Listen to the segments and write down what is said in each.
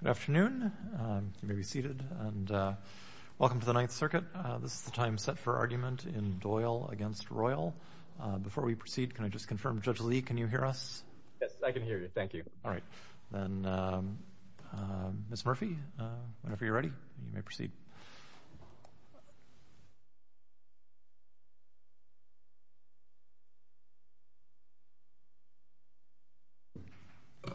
Good afternoon. You may be seated. Welcome to the Ninth Circuit. This is the time set for argument in Doyle v. Royal. Before we proceed, can I just confirm, Judge Lee, can you hear us? Yes, I can hear you. Thank you. All right. Then, Ms. Murphy, whenever you're ready, you may proceed. Thank you.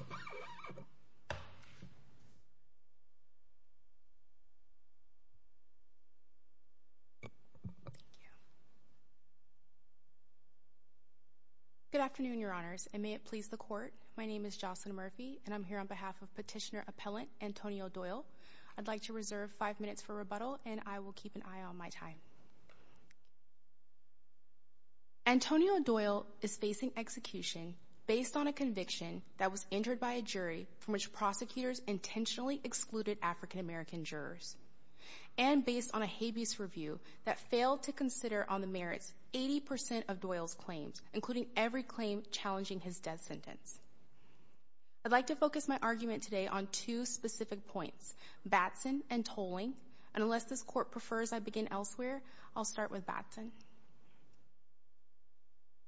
Good afternoon, Your Honors, and may it please the Court. My name is Jocelyn Murphy, and I'm here on behalf of Petitioner Appellant Antonio Doyle. I'd like to reserve five minutes for rebuttal, and I will keep an eye on my time. Antonio Doyle is facing execution based on a conviction that was entered by a jury from which prosecutors intentionally excluded African American jurors, and based on a habeas review that failed to consider on the merits 80 percent of Doyle's claims, including every claim challenging his death sentence. I'd like to focus my argument today on two specific points, Batson and tolling. And unless this Court prefers I begin elsewhere, I'll start with Batson.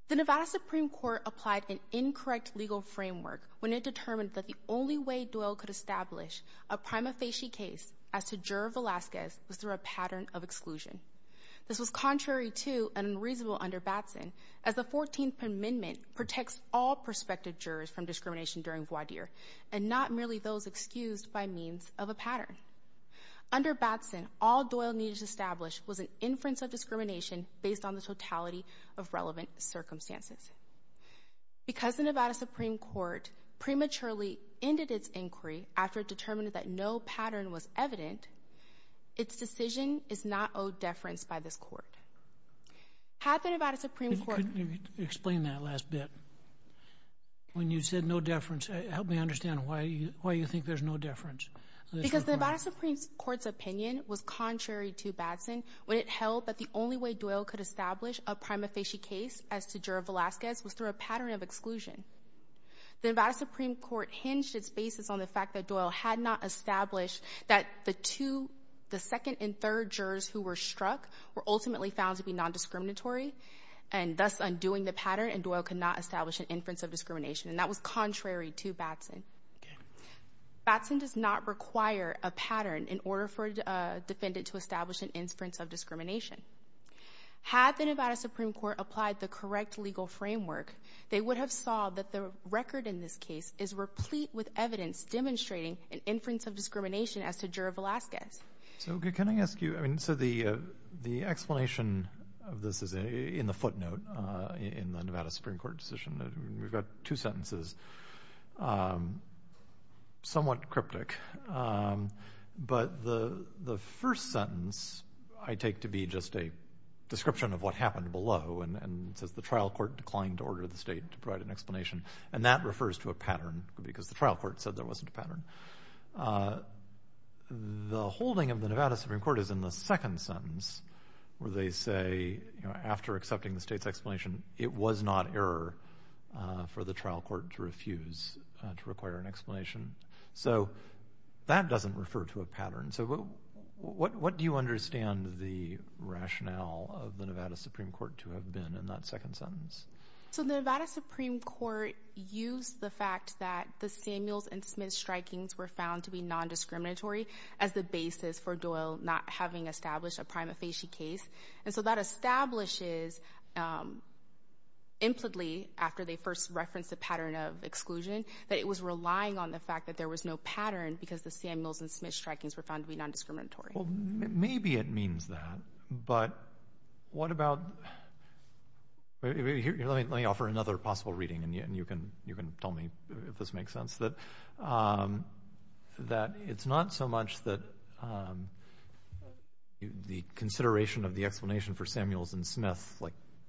The Nevada Supreme Court applied an incorrect legal framework when it determined that the only way Doyle could establish a prima facie case as to juror Velazquez was through a pattern of exclusion. This was contrary to and unreasonable under Batson, as the 14th Amendment protects all prospective jurors from discrimination during voir dire, and not merely those excused by means of a pattern. Under Batson, all Doyle needed to establish was an inference of discrimination based on the totality of relevant circumstances. Because the Nevada Supreme Court prematurely ended its inquiry after it determined that no pattern was evident, its decision is not owed deference by this Court. Had the Nevada Supreme Court... Explain that last bit. When you said no deference, help me understand why you think there's no deference. Because the Nevada Supreme Court's opinion was contrary to Batson when it held that the only way Doyle could establish a prima facie case as to juror Velazquez was through a pattern of exclusion. The Nevada Supreme Court hinged its basis on the fact that Doyle had not established that the second and third jurors who were struck were ultimately found to be non-discriminatory, and thus undoing the pattern, and Doyle could not establish an inference of discrimination. And that was contrary to Batson. Batson does not require a pattern in order for a defendant to establish an inference of discrimination. Had the Nevada Supreme Court applied the correct legal framework, they would have saw that the record in this case is replete with evidence demonstrating an inference of discrimination as to juror Velazquez. Can I ask you... The explanation of this is in the footnote in the Nevada Supreme Court decision. We've got two sentences. Somewhat cryptic. But the first sentence I take to be just a description of what happened below, and it says the trial court declined to order the state to provide an explanation. And that refers to a pattern, because the trial court said there wasn't a pattern. The holding of the Nevada Supreme Court is in the second sentence, where they say after accepting the state's explanation, it was not error for the trial court to refuse to require an explanation. So that doesn't refer to a pattern. So what do you understand the rationale of the Nevada Supreme Court to have been in that second sentence? So the Nevada Supreme Court used the fact that the Samuels and Smith strikings were found to be non-discriminatory as the basis for Doyle not having established a prima facie case. And so that establishes, implicitly, after they first referenced the pattern of exclusion, that it was relying on the fact that there was no pattern because the Samuels and Smith strikings were found to be non-discriminatory. Well, maybe it means that. But what about... Let me offer another possible reading, and you can tell me if this makes sense. That it's not so much that the consideration of the explanation for Samuels and Smith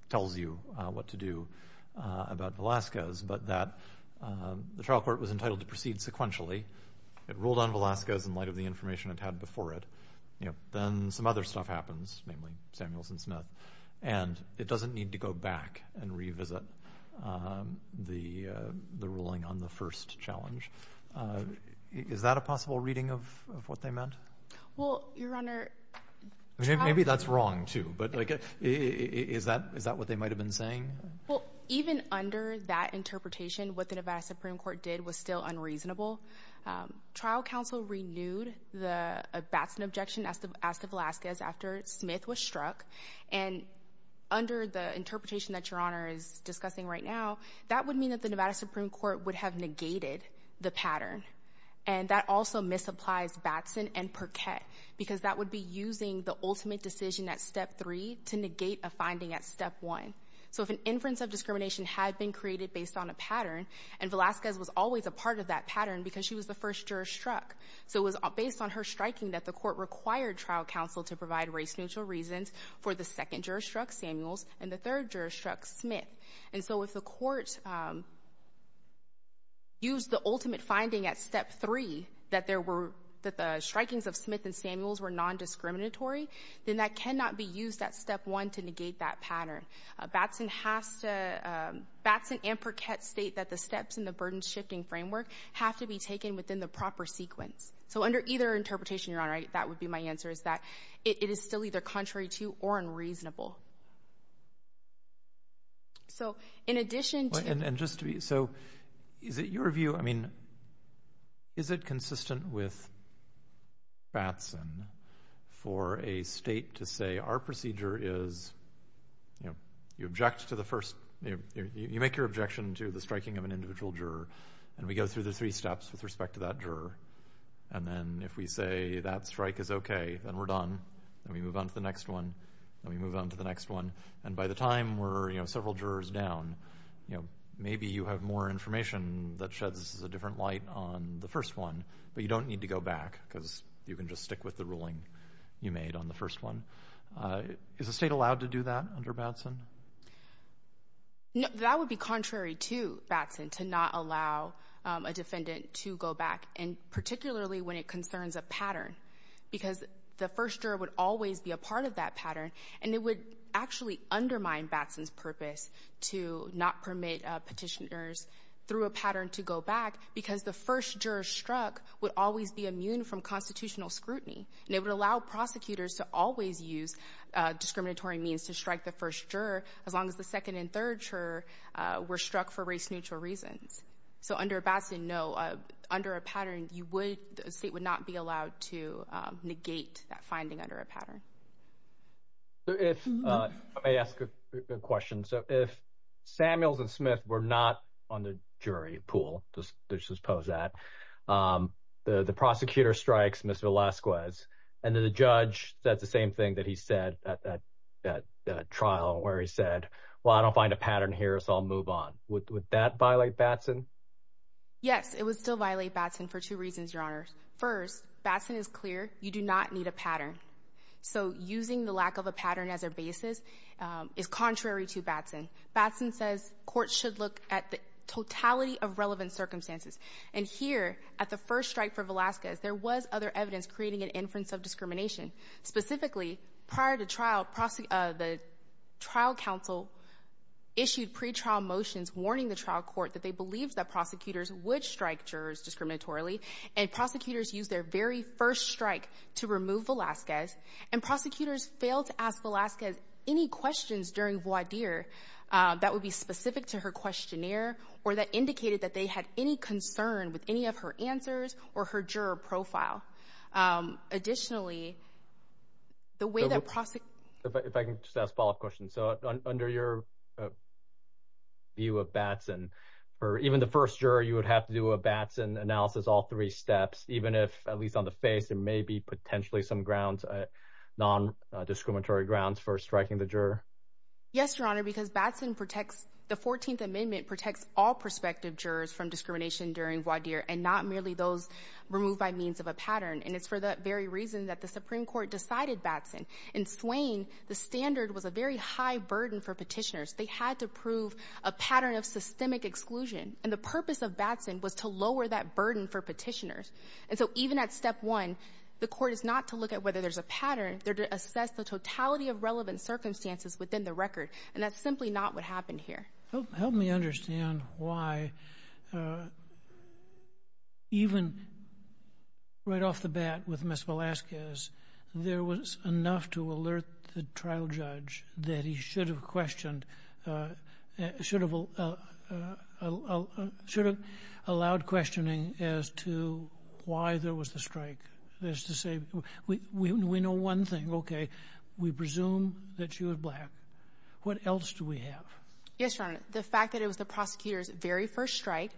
tells you what to do about Velazquez, but that the trial court was entitled to proceed sequentially. It ruled on Velazquez in light of the information it had before it. Then some other stuff happens, namely Samuels and Smith. And it doesn't need to go back and revisit the ruling on the first challenge. Is that a possible reading of what they meant? Well, Your Honor... Maybe that's wrong, too, but is that what they might have been saying? Well, even under that interpretation, what the Nevada Supreme Court did was still unreasonable. Trial counsel renewed the Batson objection as to Velazquez after Smith was struck. And under the interpretation that Your Honor is discussing right now, that would mean that the Nevada Supreme Court would have negated the pattern. And that also misapplies Batson and Perquette because that would be using the ultimate decision at Step 3 to negate a finding at Step 1. So if an inference of discrimination had been created based on a pattern, and Velazquez was always a part of that pattern because she was the first juror struck, so it was based on her striking that the court required trial counsel to provide race-neutral reasons for the second juror struck, Samuels, and the third juror struck, Smith. And so if the court used the ultimate finding at Step 3 that the strikings of Smith and Samuels were nondiscriminatory, then that cannot be used at Step 1 to negate that pattern. Batson and Perquette state that the steps in the burden-shifting framework have to be taken within the proper sequence. So under either interpretation, Your Honor, that would be my answer, is that it is still either contrary to or unreasonable. So in addition to... And just to be... So is it your view, I mean, is it consistent with Batson for a state to say, our procedure is, you know, you object to the first... You make your objection to the striking of an individual juror, and we go through the three steps with respect to that juror. And then if we say that strike is okay, then we're done, then we move on to the next one, then we move on to the next one. And by the time we're, you know, several jurors down, you know, maybe you have more information that sheds a different light on the first one, but you don't need to go back because you can just stick with the ruling you made on the first one. Is the state allowed to do that under Batson? No, that would be contrary to Batson to not allow a defendant to go back, and particularly when it concerns a pattern, because the first juror would always be a part of that pattern, and it would actually undermine Batson's purpose to not permit petitioners through a pattern to go back because the first juror struck would always be immune from constitutional scrutiny, and it would allow prosecutors to always use discriminatory means to strike the first juror as long as the second and third juror were struck for race-neutral reasons. So under Batson, no. Under a pattern, the state would not be allowed to negate that finding under a pattern. Let me ask a question. So if Samuels and Smith were not on the jury pool, let's just pose that, the prosecutor strikes Mr. Velasquez, and then the judge said the same thing that he said at that trial where he said, well, I don't find a pattern here, so I'll move on. Would that violate Batson? Yes, it would still violate Batson for two reasons, Your Honors. First, Batson is clear you do not need a pattern, so using the lack of a pattern as a basis is contrary to Batson. Batson says courts should look at the totality of relevant circumstances, and here at the first strike for Velasquez, there was other evidence creating an inference of discrimination. Specifically, prior to trial, the trial counsel issued pretrial motions warning the trial court that they believed that prosecutors would strike jurors discriminatorily, and prosecutors used their very first strike to remove Velasquez, and prosecutors failed to ask Velasquez any questions during voir dire that would be specific to her questionnaire or that indicated that they had any concern with any of her answers or her juror profile. Additionally, the way that prosecutors... If I can just ask a follow-up question. So under your view of Batson, for even the first juror, you would have to do a Batson analysis all three steps, even if, at least on the face, there may be potentially some grounds, non-discriminatory grounds for striking the juror? Yes, Your Honor, because Batson protects... The 14th Amendment protects all prospective jurors from discrimination during voir dire, and not merely those removed by means of a pattern, and it's for that very reason that the Supreme Court decided Batson. In Swain, the standard was a very high burden for petitioners. They had to prove a pattern of systemic exclusion, and the purpose of Batson was to lower that burden for petitioners. And so even at step one, the court is not to look at whether there's a pattern. They're to assess the totality of relevant circumstances within the record, and that's simply not what happened here. Help me understand why even right off the bat with Ms. Velazquez, there was enough to alert the trial judge that he should have allowed questioning as to why there was the strike. That is to say, we know one thing, okay, we presume that she was black. What else do we have? Yes, Your Honor, the fact that it was the prosecutor's very first strike,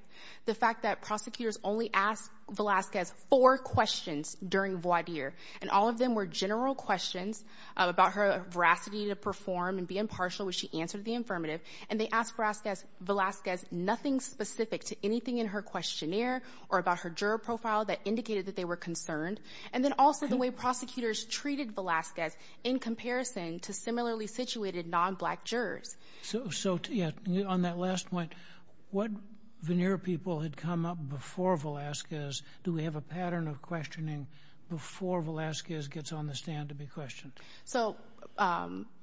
the fact that prosecutors only asked Velazquez four questions during voir dire, and all of them were general questions about her veracity to perform and be impartial when she answered the affirmative, and they asked Velazquez nothing specific to anything in her questionnaire or about her juror profile that indicated that they were concerned, and then also the way prosecutors treated Velazquez in comparison to similarly situated non-black jurors. So, yeah, on that last point, what veneer people had come up before Velazquez? Do we have a pattern of questioning before Velazquez gets on the stand to be questioned? So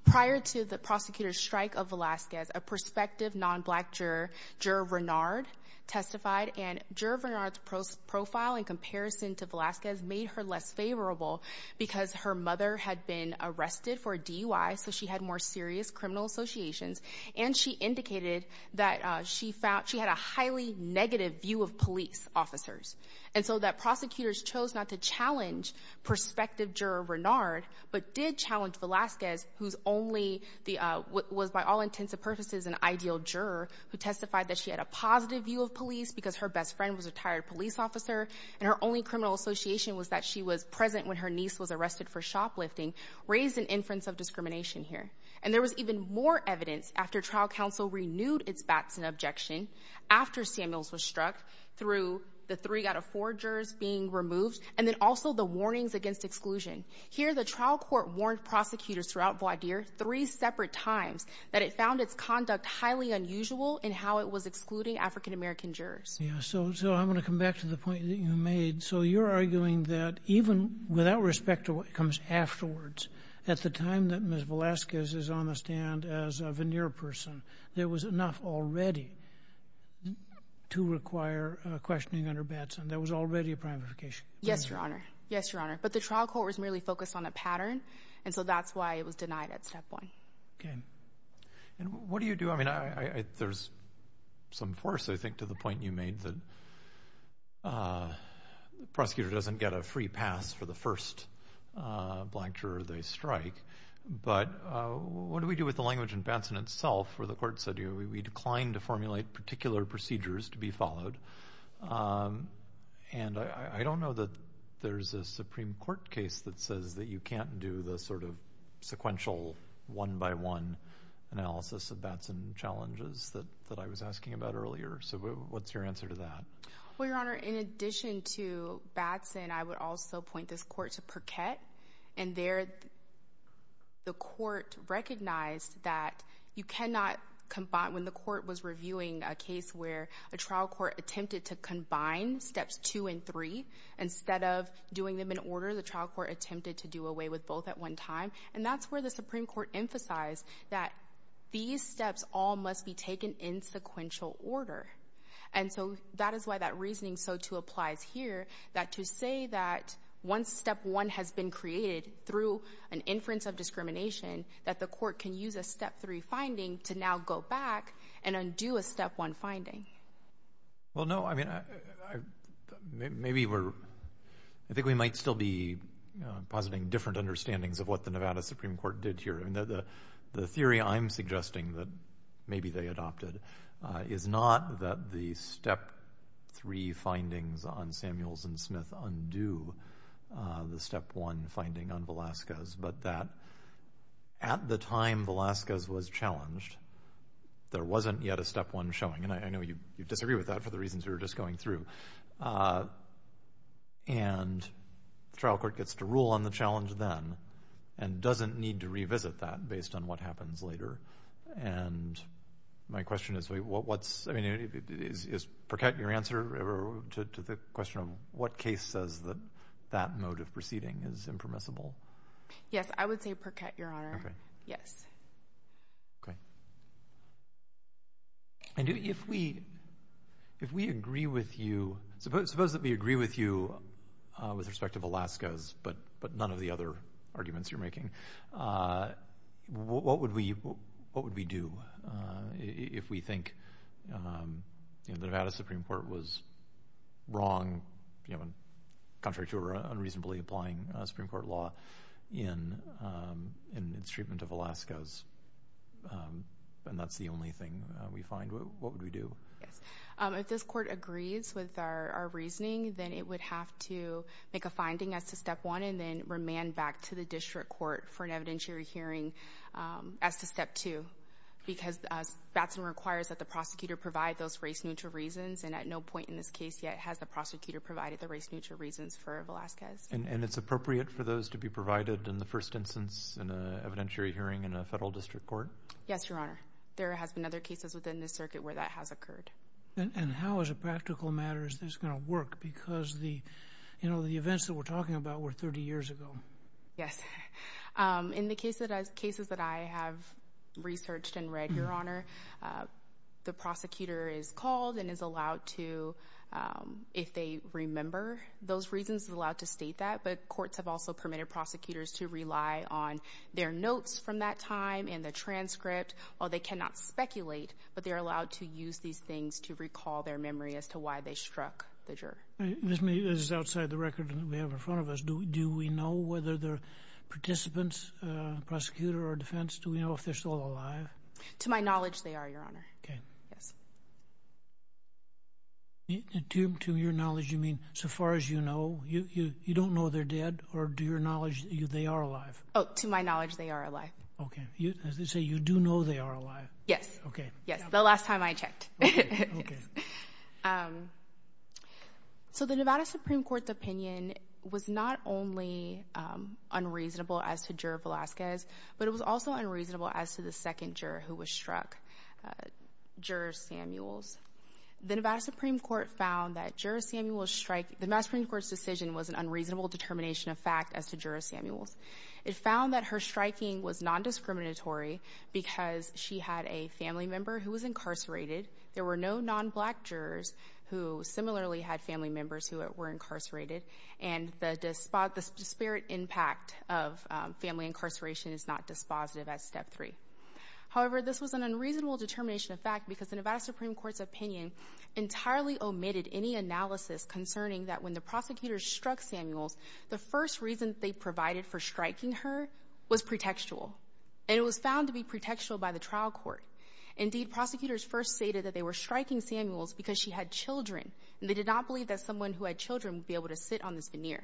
prior to the prosecutor's strike of Velazquez, a prospective non-black juror, Juror Renard, testified, and Juror Renard's profile in comparison to Velazquez made her less favorable because her mother had been arrested for DUI, so she had more serious criminal associations, and she indicated that she had a highly negative view of police officers, and so that prosecutors chose not to challenge prospective Juror Renard, but did challenge Velazquez, who was by all intents and purposes an ideal juror, who testified that she had a positive view of police because her best friend was a retired police officer, and her only criminal association was that she was present when her niece was arrested for shoplifting, raised an inference of discrimination here. And there was even more evidence after trial counsel renewed its bats and objection after Samuels was struck through the three out of four jurors being removed, and then also the warnings against exclusion. Here the trial court warned prosecutors throughout Vaudeer three separate times that it found its conduct highly unusual in how it was excluding African-American jurors. So I'm going to come back to the point that you made. So you're arguing that even without respect to what comes afterwards, at the time that Ms. Velazquez is on the stand as a veneer person, there was enough already to require questioning under Batson. There was already a primification. Yes, Your Honor. Yes, Your Honor. But the trial court was merely focused on a pattern, and so that's why it was denied at that point. Okay. And what do you do? I mean, there's some force, I think, to the point you made, that the prosecutor doesn't get a free pass for the first black juror they strike. But what do we do with the language in Batson itself where the court said, we decline to formulate particular procedures to be followed? And I don't know that there's a Supreme Court case that says that you can't do the sort of sequential one-by-one analysis of Batson challenges that I was asking about earlier. So what's your answer to that? Well, Your Honor, in addition to Batson, I would also point this court to Perquette. And there the court recognized that you cannot combine— when the court was reviewing a case where a trial court attempted to combine steps two and three, instead of doing them in order, the trial court attempted to do away with both at one time. And that's where the Supreme Court emphasized that these steps all must be taken in sequential order. And so that is why that reasoning so too applies here, that to say that once step one has been created through an inference of discrimination, that the court can use a step three finding to now go back and undo a step one finding. Well, no, I mean, maybe we're— I think we might still be positing different understandings of what the Nevada Supreme Court did here. The theory I'm suggesting that maybe they adopted is not that the step three findings on Samuels and Smith undo the step one finding on Velazquez, but that at the time Velazquez was challenged, there wasn't yet a step one showing. And I know you disagree with that for the reasons we were just going through. And the trial court gets to rule on the challenge then and doesn't need to revisit that based on what happens later. And my question is what's—I mean, is Perkett your answer to the question of what case says that that mode of proceeding is impermissible? Yes, I would say Perkett, Your Honor. Okay. Yes. Okay. And if we agree with you—suppose that we agree with you with respect to Velazquez, but none of the other arguments you're making, what would we do if we think the Nevada Supreme Court was wrong, contrary to our unreasonably applying Supreme Court law in its treatment of Velazquez, and that's the only thing we find, what would we do? Yes. If this court agrees with our reasoning, then it would have to make a finding as to step one and then remand back to the district court for an evidentiary hearing as to step two because Batson requires that the prosecutor provide those race-neutral reasons and at no point in this case yet has the prosecutor provided the race-neutral reasons for Velazquez. And it's appropriate for those to be provided in the first instance in an evidentiary hearing in a federal district court? Yes, Your Honor. There has been other cases within this circuit where that has occurred. And how, as a practical matter, is this going to work? Because the events that we're talking about were 30 years ago. Yes. In the cases that I have researched and read, Your Honor, the prosecutor is called and is allowed to, if they remember those reasons, is allowed to state that. But courts have also permitted prosecutors to rely on their notes from that time and the transcript, or they cannot speculate, but they are allowed to use these things to recall their memory as to why they struck the juror. This is outside the record that we have in front of us. Do we know whether the participants, prosecutor or defense, do we know if they're still alive? To my knowledge, they are, Your Honor. Okay. To your knowledge, you mean so far as you know? You don't know they're dead? Or to your knowledge, they are alive? Oh, to my knowledge, they are alive. Okay. So you do know they are alive? Yes. Okay. Yes, the last time I checked. Okay. So the Nevada Supreme Court's opinion was not only unreasonable as to juror Velazquez, but it was also unreasonable as to the second juror who was struck, juror Samuels. The Nevada Supreme Court found that juror Samuels' strike— the Nevada Supreme Court's decision was an unreasonable determination of fact as to juror Samuels. It found that her striking was non-discriminatory because she had a family member who was incarcerated. There were no non-black jurors who similarly had family members who were incarcerated. And the disparate impact of family incarceration is not dispositive at step three. However, this was an unreasonable determination of fact because the Nevada Supreme Court's opinion entirely omitted any analysis concerning that when the prosecutors struck Samuels, the first reason they provided for striking her was pretextual. And it was found to be pretextual by the trial court. Indeed, prosecutors first stated that they were striking Samuels because she had children. And they did not believe that someone who had children would be able to sit on this veneer.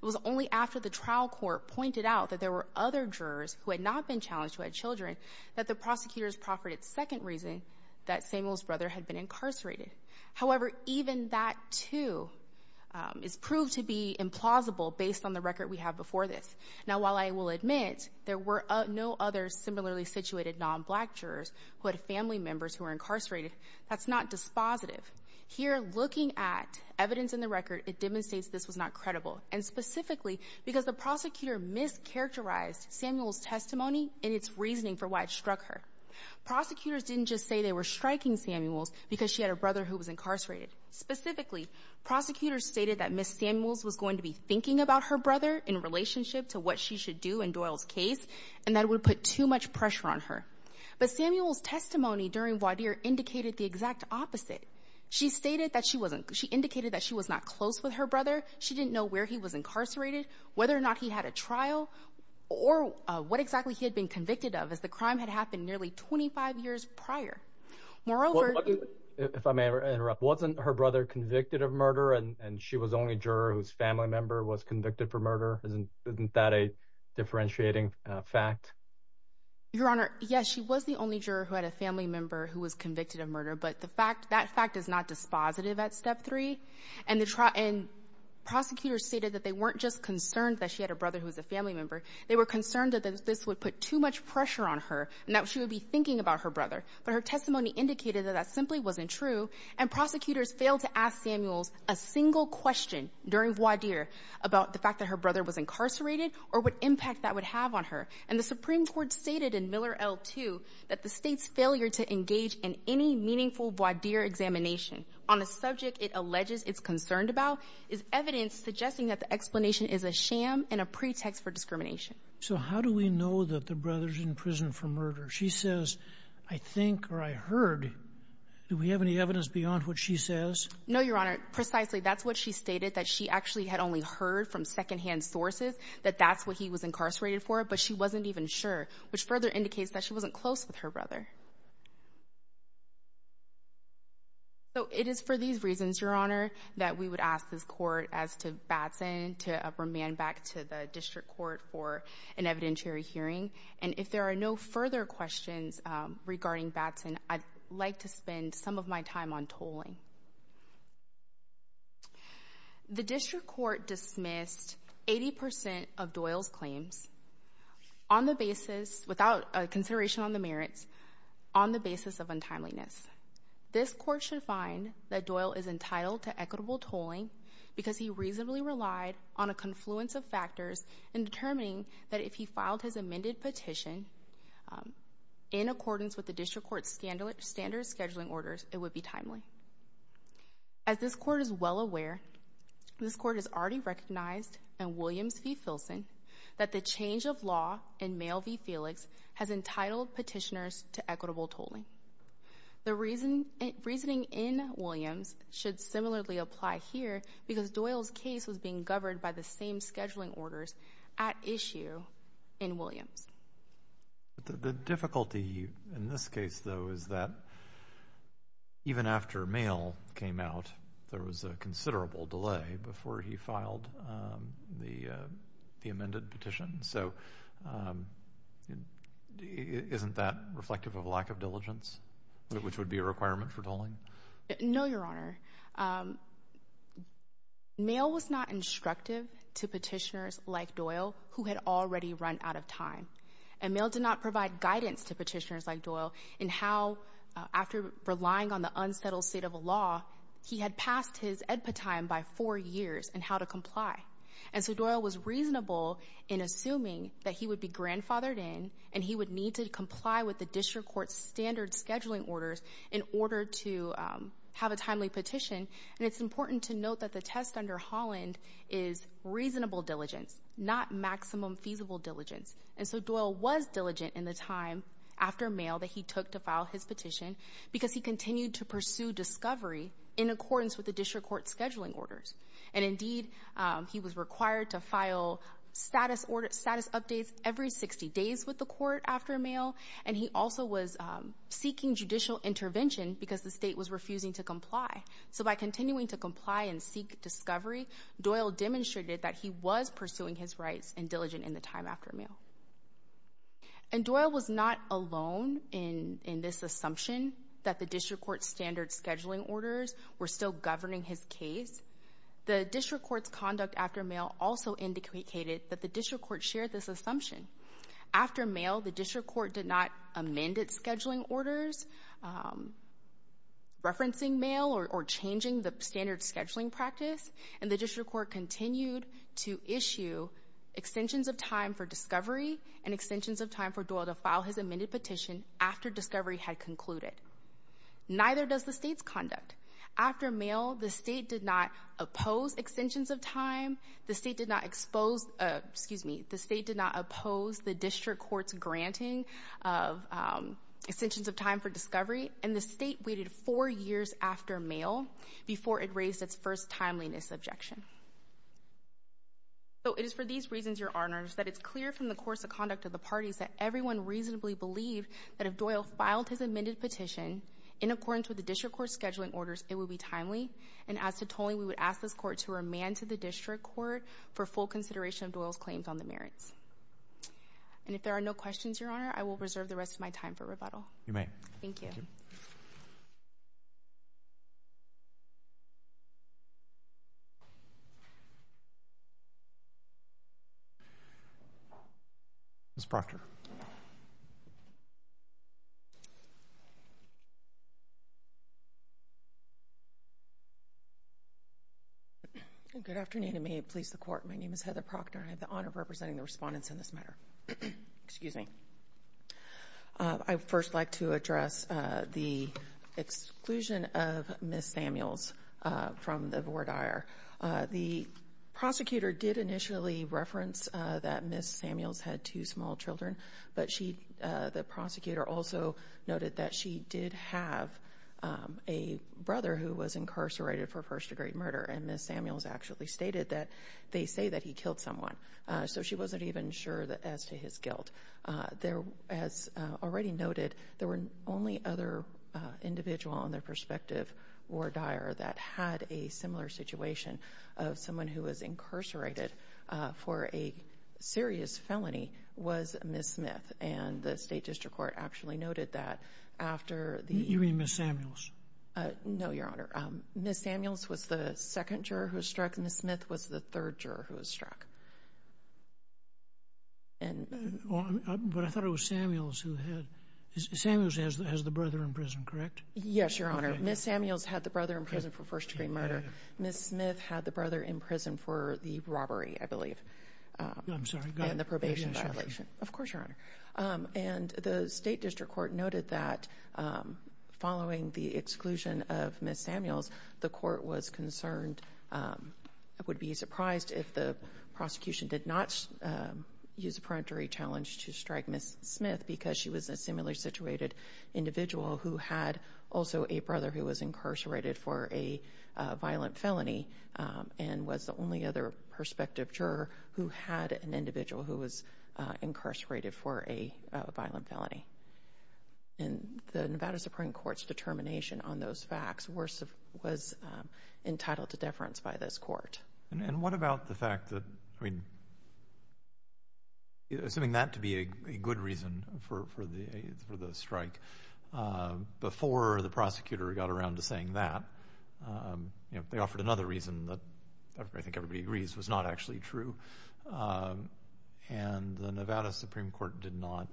It was only after the trial court pointed out that there were other jurors who had not been challenged who had children that the prosecutors proffered its second reason that Samuels' brother had been incarcerated. However, even that, too, is proved to be implausible based on the record we have before this. Now, while I will admit there were no other similarly situated non-black jurors who had family members who were incarcerated, that's not dispositive. Here, looking at evidence in the record, it demonstrates this was not credible, and specifically because the prosecutor mischaracterized Samuels' testimony and its reasoning for why it struck her. Prosecutors didn't just say they were striking Samuels because she had a brother who was incarcerated. Specifically, prosecutors stated that Ms. Samuels was going to be thinking about her brother in relationship to what she should do in Doyle's case, and that it would put too much pressure on her. But Samuels' testimony during voir dire indicated the exact opposite. She indicated that she was not close with her brother. She didn't know where he was incarcerated, whether or not he had a trial, or what exactly he had been convicted of as the crime had happened nearly 25 years prior. Moreover... If I may interrupt, wasn't her brother convicted of murder, and she was the only juror whose family member was convicted for murder? Isn't that a differentiating fact? Your Honor, yes, she was the only juror who had a family member who was convicted of murder, but that fact is not dispositive at Step 3. And prosecutors stated that they weren't just concerned that she had a brother who was a family member. They were concerned that this would put too much pressure on her, and that she would be thinking about her brother. But her testimony indicated that that simply wasn't true, and prosecutors failed to ask Samuels a single question during voir dire about the fact that her brother was incarcerated or what impact that would have on her. And the Supreme Court stated in Miller L2 that the state's failure to engage in any meaningful voir dire examination on a subject it alleges it's concerned about is evidence suggesting that the explanation is a sham and a pretext for discrimination. So how do we know that the brother's in prison for murder? She says, I think or I heard. Do we have any evidence beyond what she says? No, Your Honor, precisely. That's what she stated, that she actually had only heard from second-hand sources that that's what he was incarcerated for, but she wasn't even sure, which further indicates that she wasn't close with her brother. So it is for these reasons, Your Honor, that we would ask this court as to Batson to remand back to the district court for an evidentiary hearing. And if there are no further questions regarding Batson, I'd like to spend some of my time on tolling. The district court dismissed 80% of Doyle's claims without consideration on the merits on the basis of untimeliness. This court should find that Doyle is entitled to equitable tolling because he reasonably relied on a confluence of factors in determining that if he filed his amended petition in accordance with the district court's standard scheduling orders, it would be timely. As this court is well aware, this court has already recognized in Williams v. Filson that the change of law in Mayo v. Felix has entitled petitioners to equitable tolling. The reasoning in Williams should similarly apply here because Doyle's case was being governed by the same scheduling orders at issue in Williams. The difficulty in this case, though, is that even after Mayo came out, there was a considerable delay before he filed the amended petition. So isn't that reflective of lack of diligence, which would be a requirement for tolling? No, Your Honor. Mayo was not instructive to petitioners like Doyle who had already run out of time. And Mayo did not provide guidance to petitioners like Doyle in how, after relying on the unsettled state of the law, he had passed his edpa time by four years in how to comply. And so Doyle was reasonable in assuming that he would be grandfathered in and he would need to comply with the district court's standard scheduling orders in order to have a timely petition. And it's important to note that the test under Holland is reasonable diligence, not maximum feasible diligence. And so Doyle was diligent in the time after Mayo that he took to file his petition because he continued to pursue discovery in accordance with the district court's scheduling orders. And, indeed, he was required to file status updates every 60 days with the court after Mayo, and he also was seeking judicial intervention because the state was refusing to comply. So by continuing to comply and seek discovery, Doyle demonstrated that he was pursuing his rights and diligent in the time after Mayo. And Doyle was not alone in this assumption that the district court's standard scheduling orders were still governing his case. The district court's conduct after Mayo also indicated that the district court shared this assumption. After Mayo, the district court did not amend its scheduling orders, referencing Mayo or changing the standard scheduling practice, and the district court continued to issue extensions of time for discovery and extensions of time for Doyle to file his amended petition after discovery had concluded. Neither does the state's conduct. After Mayo, the state did not oppose extensions of time. The state did not expose... Excuse me. The state did not oppose the district court's granting of extensions of time for discovery, and the state waited four years after Mayo before it raised its first timeliness objection. So it is for these reasons, Your Honors, that it's clear from the course of conduct of the parties that everyone reasonably believed that if Doyle filed his amended petition in accordance with the district court's scheduling orders, it would be timely, and as to tolling, we would ask this court to remand to the district court for full consideration of Doyle's claims on the merits. And if there are no questions, Your Honor, I will reserve the rest of my time for rebuttal. You may. Thank you. Ms. Proctor. Good afternoon, and may it please the Court, my name is Heather Proctor, and I have the honor of representing the respondents in this matter. Excuse me. I'd first like to address the exclusion of Ms. Samuels from the voir dire. The prosecutor did initially reference that Ms. Samuels had two small children, but the prosecutor also noted that she did have a brother who was incarcerated for first-degree murder, and Ms. Samuels actually stated that they say that he killed someone, so she wasn't even sure as to his guilt. As already noted, there were only other individuals on their perspective voir dire that had a similar situation of someone who was incarcerated for a serious felony was Ms. Smith, and the state district court actually noted that after the... You mean Ms. Samuels? No, Your Honor. Ms. Samuels was the second juror who was struck, and Ms. Smith was the third juror who was struck. But I thought it was Samuels who had... Samuels has the brother in prison, correct? Yes, Your Honor. Ms. Samuels had the brother in prison for first-degree murder. Ms. Smith had the brother in prison for the robbery, I believe. I'm sorry. And the probation violation. Of course, Your Honor. And the state district court noted that following the exclusion of Ms. Samuels, the court was concerned, would be surprised if the prosecution did not use a peremptory challenge to strike Ms. Smith because she was a similarly situated individual who had also a brother who was incarcerated for a violent felony and was the only other perspective juror who had an individual who was incarcerated for a violent felony. And the Nevada Supreme Court's determination on those facts was entitled to deference by this court. And what about the fact that, I mean, assuming that to be a good reason for the strike, before the prosecutor got around to saying that, they offered another reason that I think everybody agrees was not actually true, and the Nevada Supreme Court did not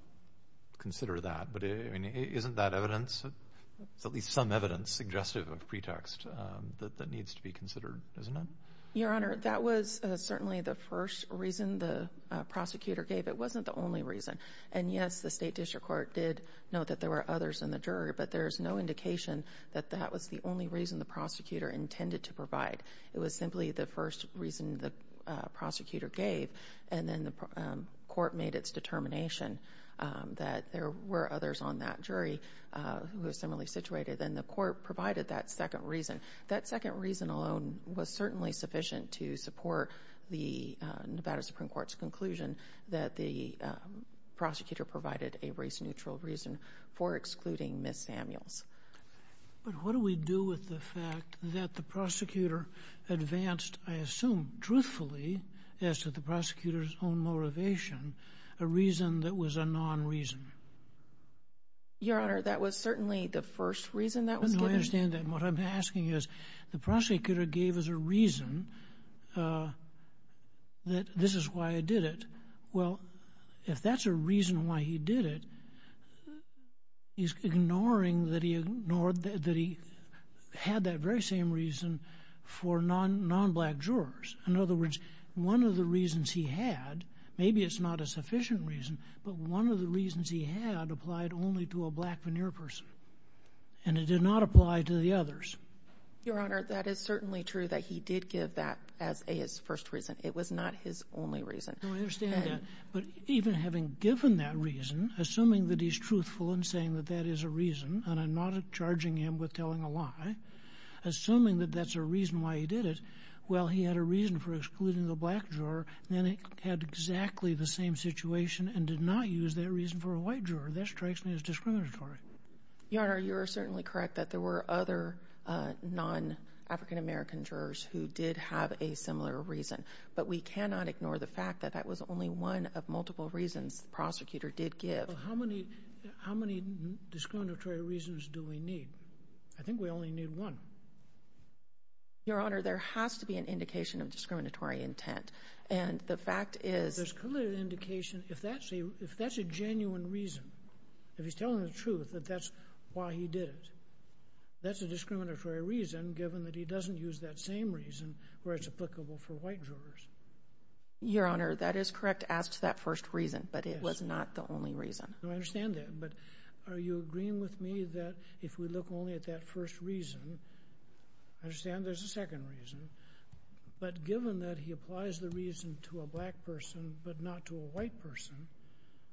consider that. But isn't that evidence, at least some evidence suggestive of pretext that needs to be considered, doesn't it? Your Honor, that was certainly the first reason the prosecutor gave. It wasn't the only reason. And, yes, the state district court did note that there were others in the jury, but there's no indication that that was the only reason the prosecutor intended to provide. It was simply the first reason the prosecutor gave, and then the court made its determination that there were others on that jury who were similarly situated, and the court provided that second reason. That second reason alone was certainly sufficient to support the Nevada Supreme Court's conclusion that the prosecutor provided a race-neutral reason for excluding Ms. Samuels. But what do we do with the fact that the prosecutor advanced, I assume truthfully, as to the prosecutor's own motivation, a reason that was a non-reason? Your Honor, that was certainly the first reason that was given. No, I understand that, and what I'm asking is, the prosecutor gave us a reason that this is why I did it. Well, if that's a reason why he did it, he's ignoring that he had that very same reason for non-black jurors. In other words, one of the reasons he had, maybe it's not a sufficient reason, but one of the reasons he had applied only to a black veneer person, and it did not apply to the others. Your Honor, that is certainly true that he did give that as his first reason. It was not his only reason. No, I understand that, but even having given that reason, assuming that he's truthful in saying that that is a reason, and I'm not charging him with telling a lie, assuming that that's a reason why he did it, well, he had a reason for excluding the black juror, and then he had exactly the same situation and did not use that reason for a white juror. That strikes me as discriminatory. Your Honor, you are certainly correct that there were other non-African American jurors who did have a similar reason, but we cannot ignore the fact that that was only one of multiple reasons the prosecutor did give. How many discriminatory reasons do we need? I think we only need one. Your Honor, there has to be an indication of discriminatory intent, and the fact is... There's clearly an indication. If that's a genuine reason, if he's telling the truth that that's why he did it, that's a discriminatory reason given that he doesn't use that same reason where it's applicable for white jurors. Your Honor, that is correct as to that first reason, but it was not the only reason. No, I understand that, but are you agreeing with me that if we look only at that first reason, I understand there's a second reason, but given that he applies the reason to a black person but not to a white person,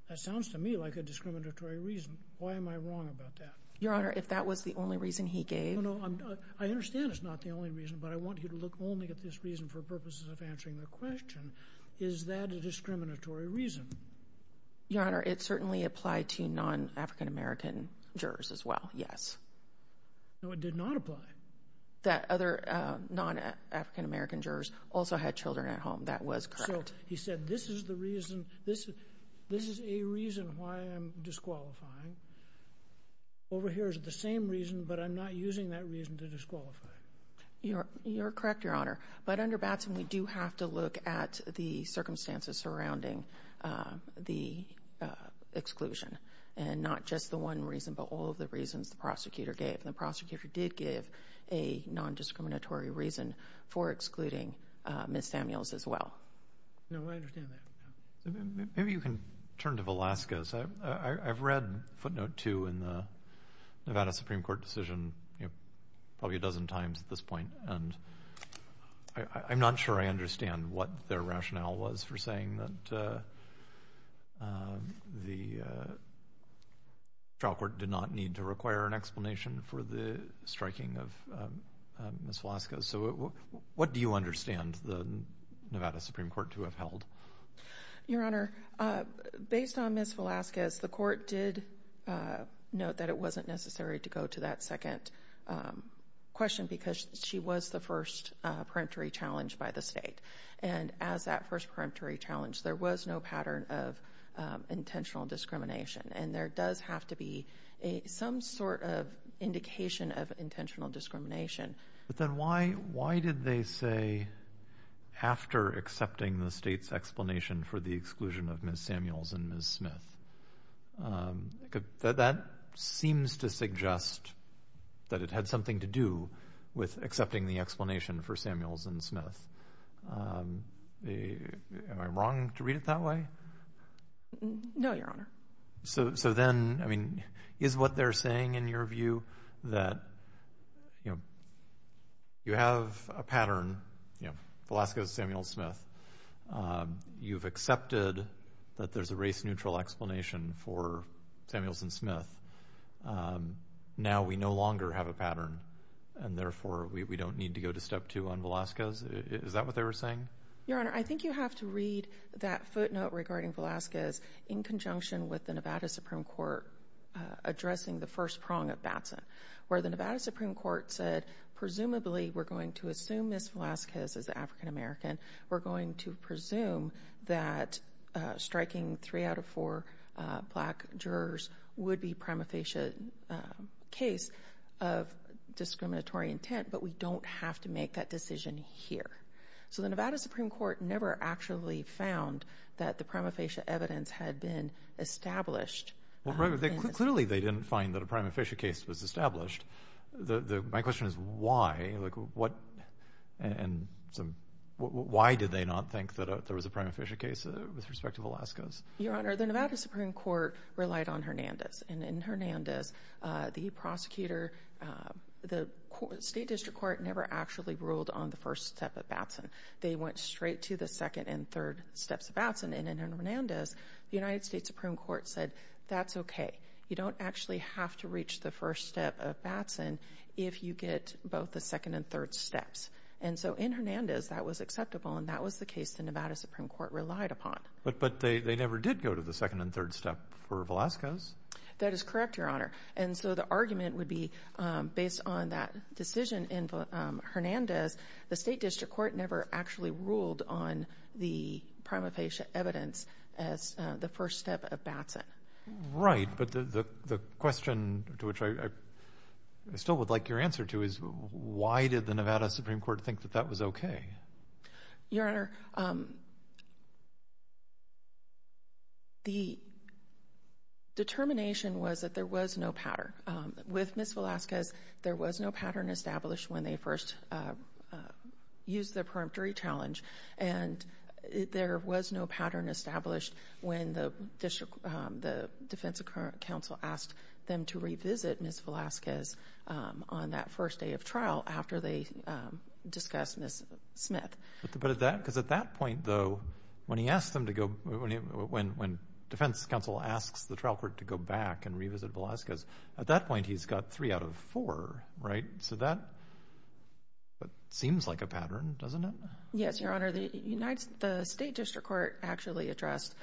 that sounds to me like a discriminatory reason. Why am I wrong about that? Your Honor, if that was the only reason he gave... No, no, I understand it's not the only reason, but I want you to look only at this reason for purposes of answering the question. Is that a discriminatory reason? Your Honor, it certainly applied to non-African-American jurors as well, yes. No, it did not apply. That other non-African-American jurors also had children at home. That was correct. So he said this is the reason, this is a reason why I'm disqualifying. Over here is the same reason, but I'm not using that reason to disqualify. You're correct, Your Honor, but under Batson we do have to look at the circumstances surrounding the exclusion, and not just the one reason but all of the reasons the prosecutor gave. The prosecutor did give a non-discriminatory reason for excluding Ms. Samuels as well. No, I understand that. Maybe you can turn to Velasquez. I've read footnote 2 in the Nevada Supreme Court decision probably a dozen times at this point, and I'm not sure I understand what their rationale was for saying that the trial court did not need to require an explanation for the striking of Ms. Velasquez. So what do you understand the Nevada Supreme Court to have held? Your Honor, based on Ms. Velasquez, the court did note that it wasn't necessary to go to that second question because she was the first peremptory challenge by the state, and as that first peremptory challenge, there was no pattern of intentional discrimination, and there does have to be some sort of indication of intentional discrimination. But then why did they say after accepting the state's explanation for the exclusion of Ms. Samuels and Ms. Smith? That seems to suggest that it had something to do with accepting the explanation for Samuels and Smith. Am I wrong to read it that way? No, Your Honor. So then, I mean, is what they're saying, in your view, that you have a pattern, Velasquez, Samuels, Smith, you've accepted that there's a race-neutral explanation for Samuels and Smith, now we no longer have a pattern, and therefore we don't need to go to step two on Velasquez? Is that what they were saying? Your Honor, I think you have to read that footnote regarding Velasquez in conjunction with the Nevada Supreme Court addressing the first prong of Batson, where the Nevada Supreme Court said, Presumably, we're going to assume Ms. Velasquez is African American. We're going to presume that striking three out of four black jurors would be prima facie case of discriminatory intent, but we don't have to make that decision here. So the Nevada Supreme Court never actually found that the prima facie evidence had been established. Clearly, they didn't find that a prima facie case was established. My question is, why? Why did they not think that there was a prima facie case with respect to Velasquez? Your Honor, the Nevada Supreme Court relied on Hernandez, and in Hernandez, the prosecutor, the state district court never actually ruled on the first step of Batson. They went straight to the second and third steps of Batson, and in Hernandez, the United States Supreme Court said, That's okay. You don't actually have to reach the first step of Batson if you get both the second and third steps. And so in Hernandez, that was acceptable, and that was the case the Nevada Supreme Court relied upon. But they never did go to the second and third step for Velasquez. That is correct, Your Honor. And so the argument would be, based on that decision in Hernandez, the state district court never actually ruled on the prima facie evidence as the first step of Batson. Right, but the question to which I still would like your answer to is, why did the Nevada Supreme Court think that that was okay? Your Honor, the determination was that there was no pattern. With Ms. Velasquez, there was no pattern established when they first used the preemptory challenge, and there was no pattern established when the defense counsel asked them to revisit Ms. Velasquez on that first day of trial after they discussed Ms. Smith. But at that point, though, when defense counsel asks the trial court to go back and revisit Velasquez, at that point he's got three out of four, right? So that seems like a pattern, doesn't it? Yes, Your Honor. The state district court actually addressed,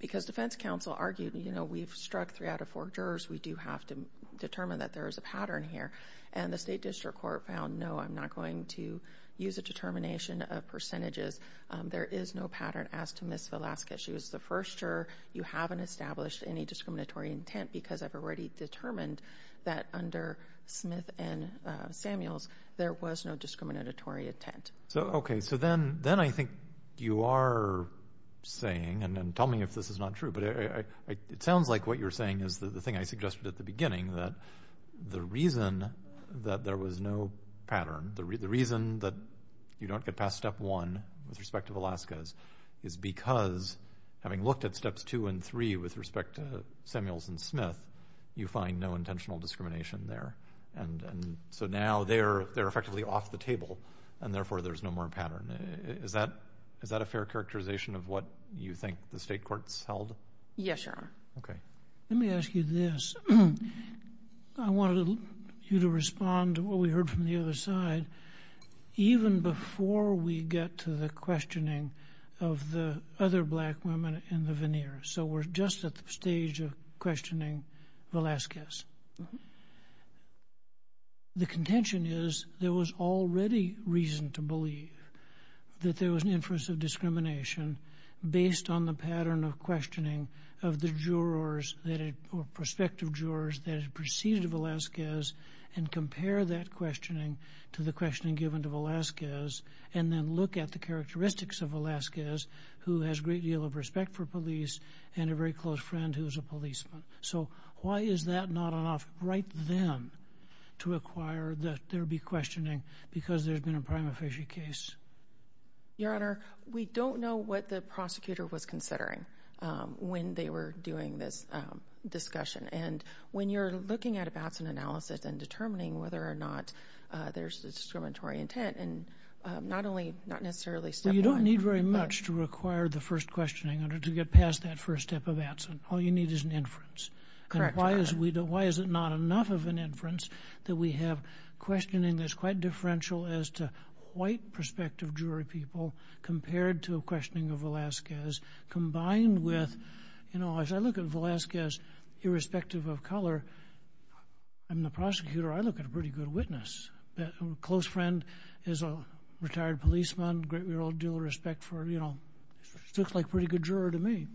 because defense counsel argued, you know, we've struck three out of four jurors, we do have to determine that there is a pattern here. And the state district court found, no, I'm not going to use a determination of percentages. There is no pattern as to Ms. Velasquez. She was the first juror. You haven't established any discriminatory intent because I've already determined that under Smith and Samuels there was no discriminatory intent. Okay, so then I think you are saying, and tell me if this is not true, but it sounds like what you're saying is the thing I suggested at the beginning, that the reason that there was no pattern, the reason that you don't get past Step 1 with respect to Velasquez is because having looked at Steps 2 and 3 with respect to Samuels and Smith, you find no intentional discrimination there. And so now they're effectively off the table and therefore there's no more pattern. Is that a fair characterization of what you think the state courts held? Yes, Your Honor. Okay. Let me ask you this. I want you to respond to what we heard from the other side even before we get to the questioning of the other black women in the veneer. So we're just at the stage of questioning Velasquez. The contention is there was already reason to believe that there was an inference of discrimination based on the pattern of questioning of the jurors or prospective jurors that had preceded Velasquez and compare that questioning to the questioning given to Velasquez and then look at the characteristics of Velasquez who has a great deal of respect for police and a very close friend who is a policeman. So why is that not enough right then to require that there be questioning because there's been a prima facie case? Your Honor, we don't know what the prosecutor was considering when they were doing this discussion. And when you're looking at a Batson analysis and determining whether or not there's a discriminatory intent, not necessarily step one. Well, you don't need very much to require the first questioning in order to get past that first step of Batson. All you need is an inference. And why is it not enough of an inference that we have questioning that's quite differential as to white prospective jury people compared to a questioning of Velasquez combined with, you know, as I look at Velasquez, irrespective of color, I'm the prosecutor. I look at a pretty good witness. A close friend is a retired policeman, a great deal of respect for, you know, looks like a pretty good juror to me.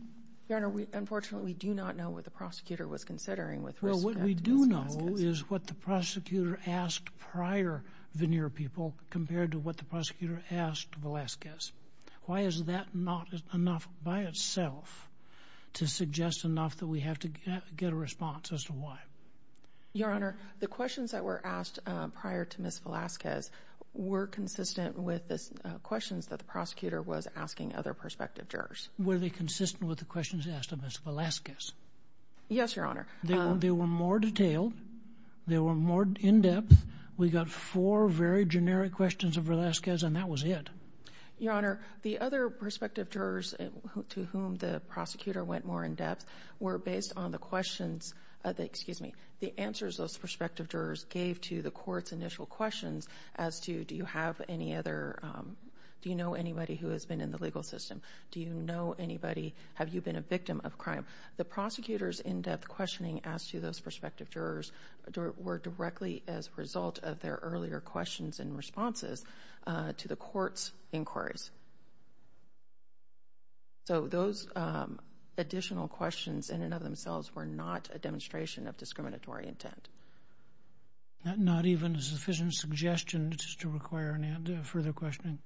Your Honor, unfortunately, we do not know what the prosecutor was considering with respect to Ms. Velasquez. Well, what we do know is what the prosecutor asked prior veneer people compared to what the prosecutor asked Velasquez. Why is that not enough by itself to suggest enough that we have to get a response as to why? Your Honor, the questions that were asked prior to Ms. Velasquez were consistent with the questions that the prosecutor was asking other prospective jurors. Were they consistent with the questions asked of Ms. Velasquez? Yes, Your Honor. They were more detailed. They were more in-depth. We got four very generic questions of Velasquez, and that was it. Your Honor, the other prospective jurors to whom the prosecutor went more in-depth were based on the questions... Excuse me, the answers those prospective jurors gave to the court's initial questions as to do you have any other... Do you know anybody who has been in the legal system? Do you know anybody? Have you been a victim of crime? The prosecutor's in-depth questioning asked to those prospective jurors were directly as a result of their earlier questions and responses to the court's inquiries. So those additional questions in and of themselves were not a demonstration of discriminatory intent. Not even a sufficient suggestion just to require any further questioning?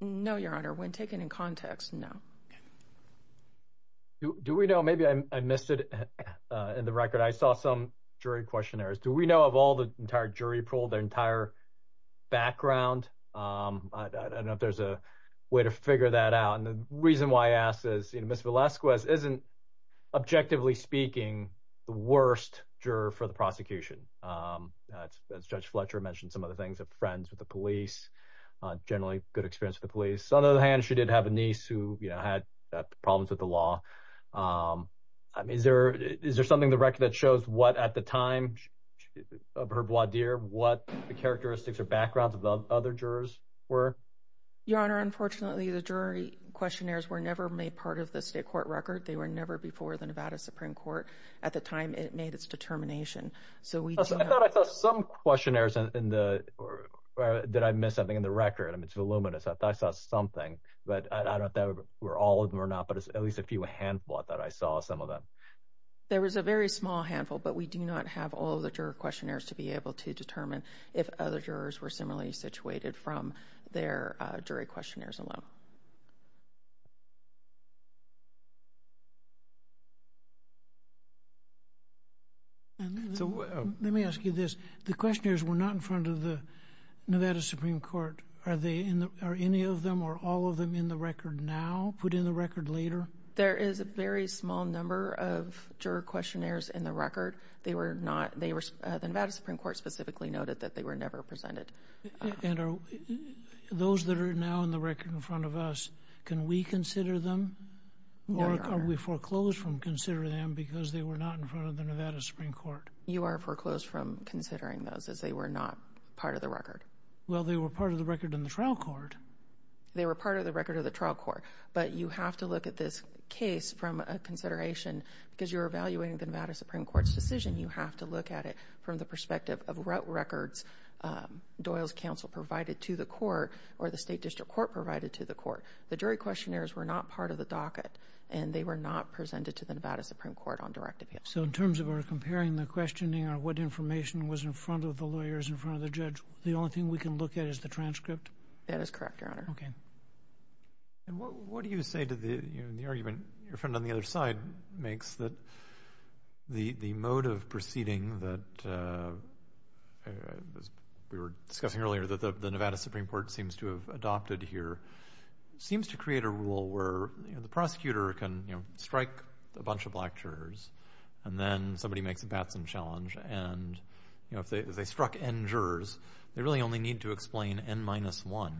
No, Your Honor. When taken in context, no. Do we know... Maybe I missed it in the record. I saw some jury questionnaires. Do we know of all the entire jury pool, their entire background? I don't know if there's a way to figure that out. And the reason why I ask is, you know, Ms. Velasquez isn't, objectively speaking, the worst juror for the prosecution. As Judge Fletcher mentioned, some of the things of friends with the police, generally good experience with the police. On the other hand, she did have a niece who had problems with the law. Is there something in the record that shows what, at the time of her voir dire, what the characteristics or backgrounds of the other jurors were? Your Honor, unfortunately, the jury questionnaires were never made part of the state court record. They were never before the Nevada Supreme Court. At the time, it made its determination. I thought I saw some questionnaires in the... Did I miss something in the record? I mean, it's voluminous. I thought I saw something, but I don't know if that were all of them or not, but at least a few, a handful, I thought I saw some of them. There was a very small handful, but we do not have all the juror questionnaires to be able to determine if other jurors were similarly situated from their jury questionnaires alone. Let me ask you this. The questionnaires were not in front of the Nevada Supreme Court. Are any of them or all of them in the record now, put in the record later? There is a very small number of juror questionnaires in the record. They were not... The Nevada Supreme Court specifically noted that they were never presented. And are those that are now in the record in front of the Nevada Supreme Court Can we consider them? Or are we foreclosed from considering them because they were not in front of the Nevada Supreme Court? You are foreclosed from considering those as they were not part of the record. Well, they were part of the record in the trial court. They were part of the record of the trial court, but you have to look at this case from a consideration because you're evaluating the Nevada Supreme Court's decision. You have to look at it from the perspective of records Doyle's counsel provided to the court or the state district court provided to the court. The jury questionnaires were not part of the docket and they were not presented to the Nevada Supreme Court on direct appeal. So in terms of our comparing the questioning or what information was in front of the lawyers, in front of the judge, the only thing we can look at is the transcript? That is correct, Your Honor. Okay. And what do you say to the argument your friend on the other side makes that the mode of proceeding that... We were discussing earlier that the Nevada Supreme Court seems to have adopted here, seems to create a rule where the prosecutor can strike a bunch of black jurors and then somebody makes a Batson challenge and if they struck N jurors, they really only need to explain N-1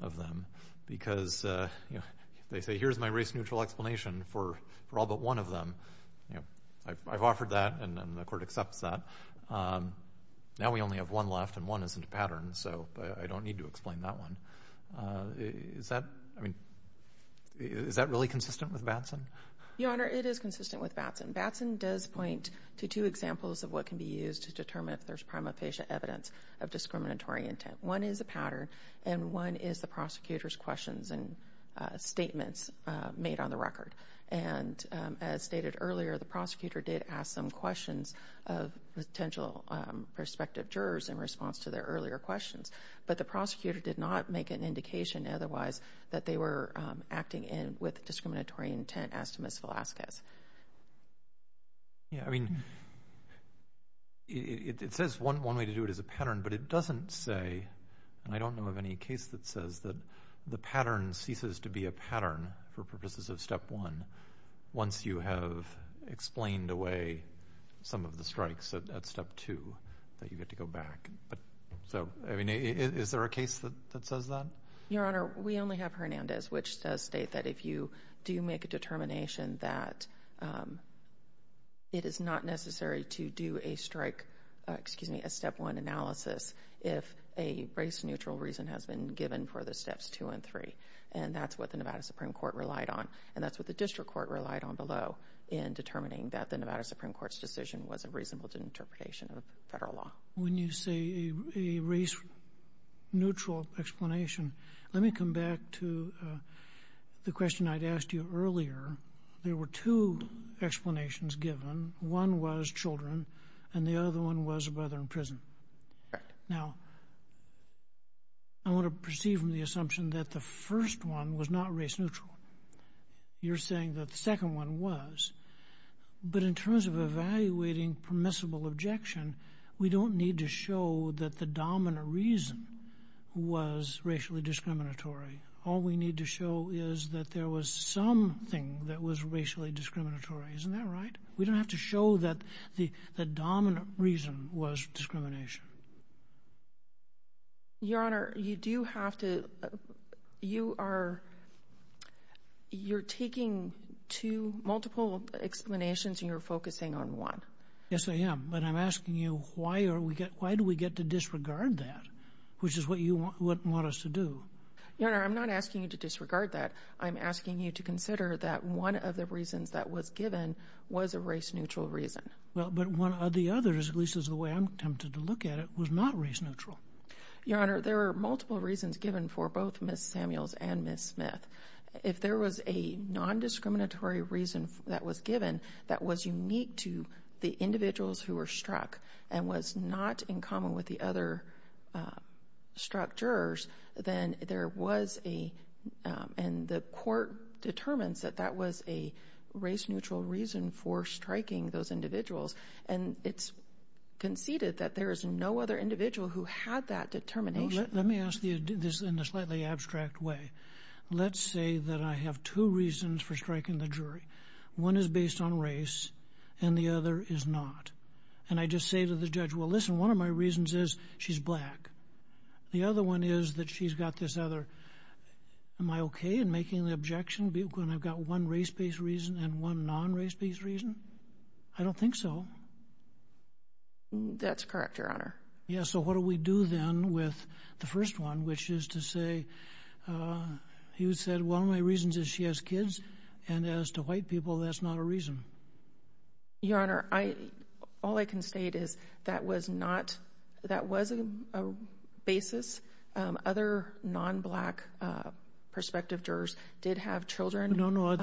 of them because they say, here's my race-neutral explanation for all but one of them. I've offered that and the court accepts that. Now we only have one left and one isn't a pattern. So I don't need to explain that one. Is that really consistent with Batson? Your Honor, it is consistent with Batson. Batson does point to two examples of what can be used to determine if there's prima facie evidence of discriminatory intent. One is a pattern and one is the prosecutor's questions and statements made on the record. And as stated earlier, the prosecutor did ask some questions of potential prospective jurors in response to their earlier questions. But the prosecutor did not make an indication otherwise that they were acting with discriminatory intent, as to Ms. Velazquez. Yeah, I mean, it says one way to do it is a pattern, but it doesn't say, and I don't know of any case that says that the pattern ceases to be a pattern for purposes of Step 1 once you have explained away some of the strikes at Step 2 that you get to go back. So, I mean, is there a case that says that? Your Honor, we only have Hernandez, which does state that if you do make a determination that it is not necessary to do a strike, excuse me, a Step 1 analysis if a race-neutral reason has been given for the Steps 2 and 3. And that's what the Nevada Supreme Court relied on, and that's what the district court relied on below in determining that the Nevada Supreme Court's decision was a reasonable interpretation of federal law. When you say a race-neutral explanation, let me come back to the question I'd asked you earlier. There were two explanations given. One was children, and the other one was a brother in prison. Correct. Now, I want to proceed from the assumption that the first one was not race-neutral. You're saying that the second one was, but in terms of evaluating permissible objection, we don't need to show that the dominant reason was racially discriminatory. All we need to show is that there was something that was racially discriminatory. Isn't that right? We don't have to show that the dominant reason was discrimination. Your Honor, you do have to... You are... You're taking two multiple explanations, and you're focusing on one. Yes, I am, but I'm asking you, why do we get to disregard that, which is what you want us to do? Your Honor, I'm not asking you to disregard that. I'm asking you to consider that one of the reasons that was given was a race-neutral reason. Well, but one of the others, at least as the way I'm tempted to look at it, was not race-neutral. Your Honor, there were multiple reasons that was given for both Ms. Samuels and Ms. Smith. If there was a nondiscriminatory reason that was given that was unique to the individuals who were struck and was not in common with the other struck jurors, then there was a... And the court determines that that was a race-neutral reason for striking those individuals, and it's conceded that there is no other individual who had that determination. Let me ask you this in a slightly abstract way. Let's say that I have two reasons for striking the jury. One is based on race, and the other is not. And I just say to the judge, well, listen, one of my reasons is she's black. The other one is that she's got this other... Am I okay in making the objection when I've got one race-based reason and one non-race-based reason? I don't think so. That's correct, Your Honor. Yeah, so what do we do then with the first one, which is to say... You said one of my reasons is she has kids, and as to white people, that's not a reason. Your Honor, all I can state is that was not... That was a basis. Other non-black prospective jurors did have children that they were caring for.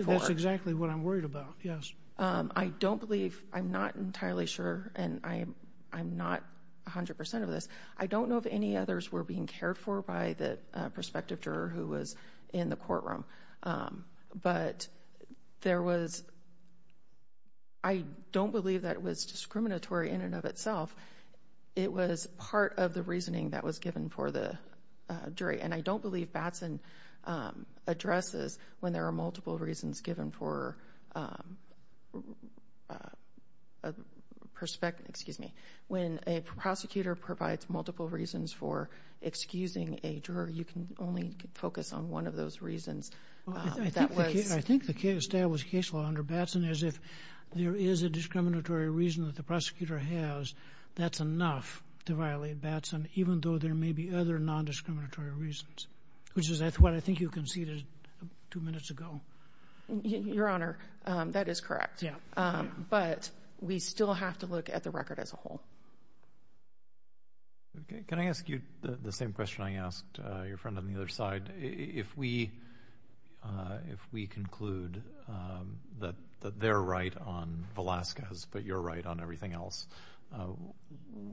No, no, that's exactly what I'm worried about, yes. I don't believe... I'm not entirely sure, and I'm not 100% of this. I don't know if any others were being cared for by the prospective juror who was in the courtroom, but there was... I don't believe that it was discriminatory in and of itself. It was part of the reasoning that was given for the jury, and I don't believe Batson addresses when there are multiple reasons given for a prospect... Excuse me. When a prosecutor provides multiple reasons for excusing a juror, you can only focus on one of those reasons. I think the established case law under Batson is if there is a discriminatory reason that the prosecutor has, that's enough to violate Batson, even though there may be other non-discriminatory reasons, which is what I think you conceded two minutes ago. Your Honor, that is correct. Yeah. But we still have to look at the record as a whole. Okay. Can I ask you the same question I asked your friend on the other side? If we conclude that they're right on Velazquez but you're right on everything else,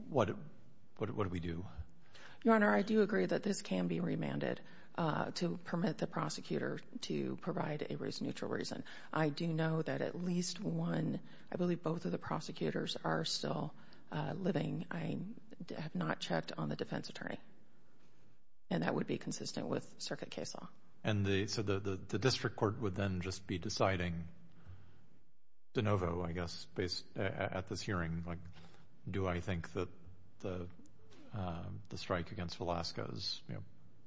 what do we do? Your Honor, I do agree that this can be remanded to permit the prosecutor to provide a neutral reason. I do know that at least one, I believe both of the prosecutors are still living. I have not checked on the defense attorney, and that would be consistent with circuit case law. And so the district court would then just be deciding de novo, I guess, at this hearing, like do I think that the strike against Velazquez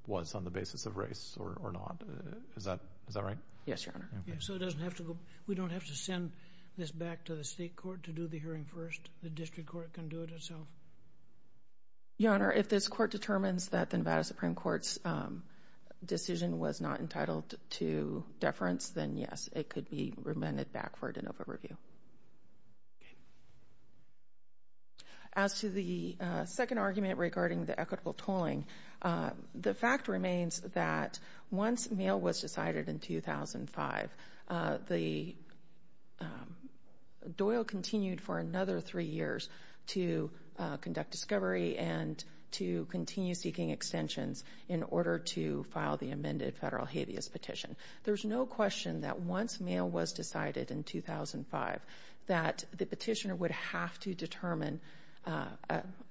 was on the basis of race or not. Is that right? Yes, Your Honor. So we don't have to send this back to the state court to do the hearing first? The district court can do it itself? Your Honor, if this court determines that the Nevada Supreme Court's decision was not entitled to deference, then yes, it could be remanded back for a de novo review. Okay. As to the second argument regarding the equitable tolling, the fact remains that once mail was decided in 2005, Doyle continued for another three years to conduct discovery and to continue seeking extensions in order to file the amended federal habeas petition. There's no question that once mail was decided in 2005 that the petitioner would have to determine,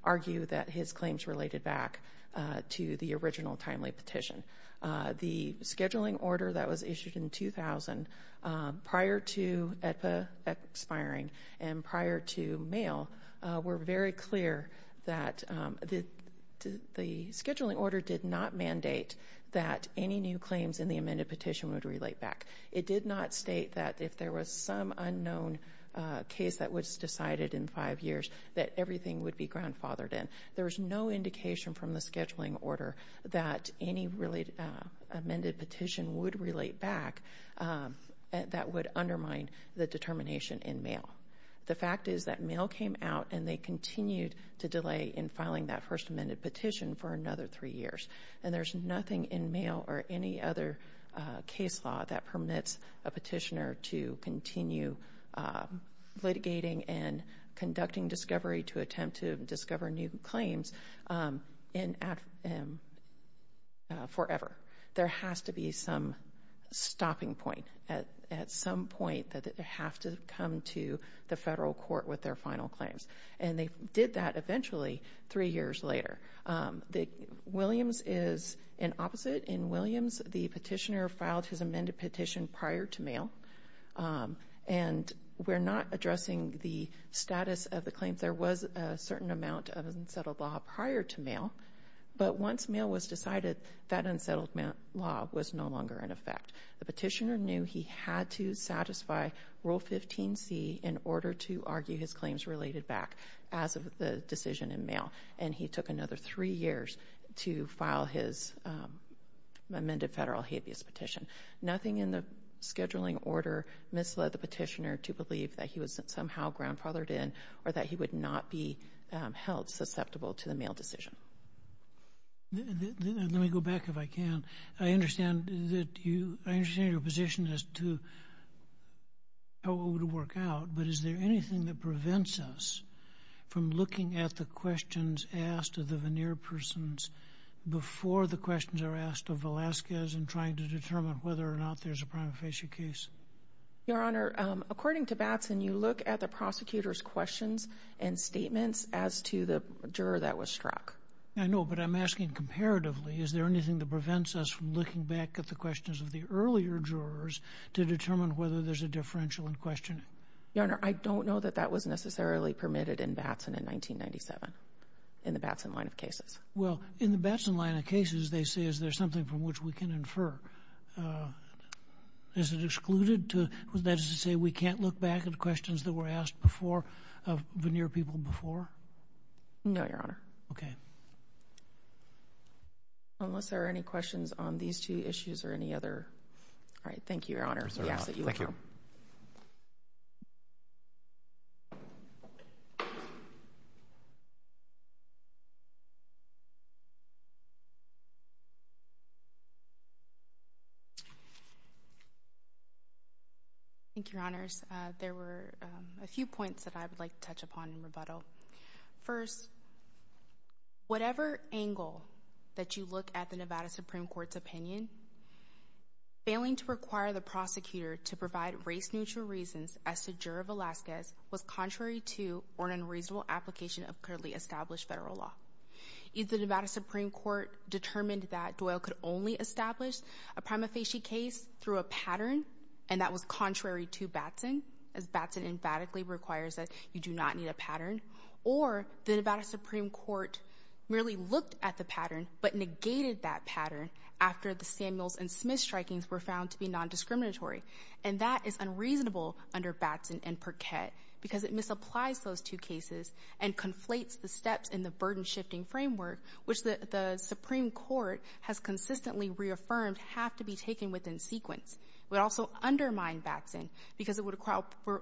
argue that his claims related back to the original timely petition. The scheduling order that was issued in 2000 prior to AEDPA expiring and prior to mail were very clear that the scheduling order did not mandate that any new claims in the amended petition would relate back. It did not state that if there was some unknown case that was decided in five years that everything would be grandfathered in. There was no indication from the scheduling order that any amended petition would relate back that would undermine the determination in mail. The fact is that mail came out and they continued to delay in filing that first amended petition for another three years. And there's nothing in mail or any other case law that permits a petitioner to continue litigating and conducting discovery to attempt to discover new claims forever. There has to be some stopping point at some point that they have to come to the federal court with their final claims. And they did that eventually three years later. Williams is an opposite. In Williams, the petitioner filed his amended petition prior to mail. And we're not addressing the status of the claims. There was a certain amount of unsettled law prior to mail. But once mail was decided, that unsettled law was no longer in effect. The petitioner knew he had to satisfy Rule 15C in order to argue his claims related back as of the decision in mail. And he took another three years to file his amended federal habeas petition. Nothing in the scheduling order misled the petitioner to believe that he was somehow grandfathered in or that he would not be held susceptible to the mail decision. Let me go back, if I can. I understand your position as to how it would work out. But is there anything that prevents us from looking at the questions asked of the veneer persons before the questions are asked of Velasquez in trying to determine whether or not there's a prima facie case? Your Honor, according to Batson, you look at the prosecutor's questions and statements as to the juror that was struck. I know, but I'm asking comparatively. Is there anything that prevents us from looking back at the questions of the earlier jurors to determine whether there's a differential in questioning? Your Honor, I don't know that that was necessarily permitted in Batson in 1997 in the Batson line of cases. Well, in the Batson line of cases, they say is there something from which we can infer. Is it excluded to say we can't look back at questions that were asked before of veneer people before? No, Your Honor. Okay. Unless there are any questions on these two issues or any other. All right. Thank you, Your Honor. Thank you. Thank you, Your Honors. There were a few points that I would like to touch upon in rebuttal. First, whatever angle that you look at the Nevada Supreme Court's opinion, failing to require the prosecutor to provide race-neutral reasons as to juror Velazquez was contrary to or an unreasonable application of currently established federal law. If the Nevada Supreme Court determined that Doyle could only establish a prima facie case through a pattern and that was contrary to Batson, as Batson emphatically requires that you do not need a pattern or the Nevada Supreme Court merely looked at the pattern but negated that pattern after the Samuels and Smith strikings were found to be nondiscriminatory. And that is unreasonable under Batson and Perquette because it misapplies those two cases and conflates the steps in the burden-shifting framework which the Supreme Court has consistently reaffirmed have to be taken within sequence. It would also undermine Batson because it would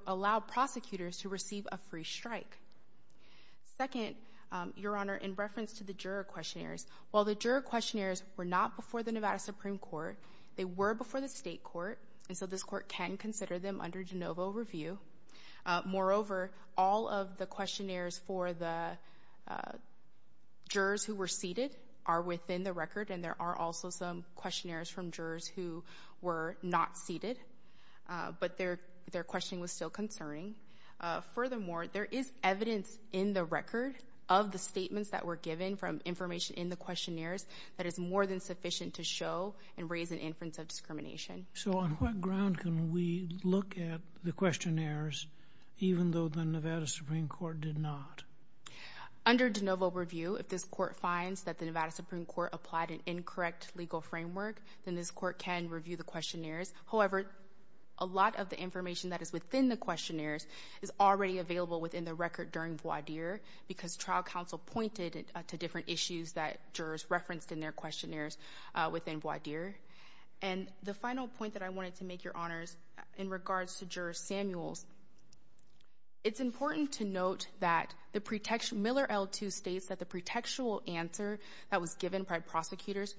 allow prosecutors to receive a free strike. Second, Your Honor, in reference to the juror questionnaires, while the juror questionnaires were not before the Nevada Supreme Court, they were before the state court, and so this court can consider them under de novo review. Moreover, all of the questionnaires for the jurors who were seated are within the record, and there are also some questionnaires from jurors who were not seated, but their questioning was still concerning. Furthermore, there is evidence in the record of the statements that were given from information in the questionnaires that is more than sufficient to show and raise an inference of discrimination. So on what ground can we look at the questionnaires even though the Nevada Supreme Court did not? Under de novo review, if this court finds that the Nevada Supreme Court applied an incorrect legal framework, then this court can review the questionnaires. However, a lot of the information that is within the questionnaires is already available within the record during voir dire because trial counsel pointed to different issues that jurors referenced in their questionnaires within voir dire. And the final point that I wanted to make, Your Honors, in regards to Juror Samuels, it's important to note that Miller L2 states that the pretextual answer that was given by prosecutors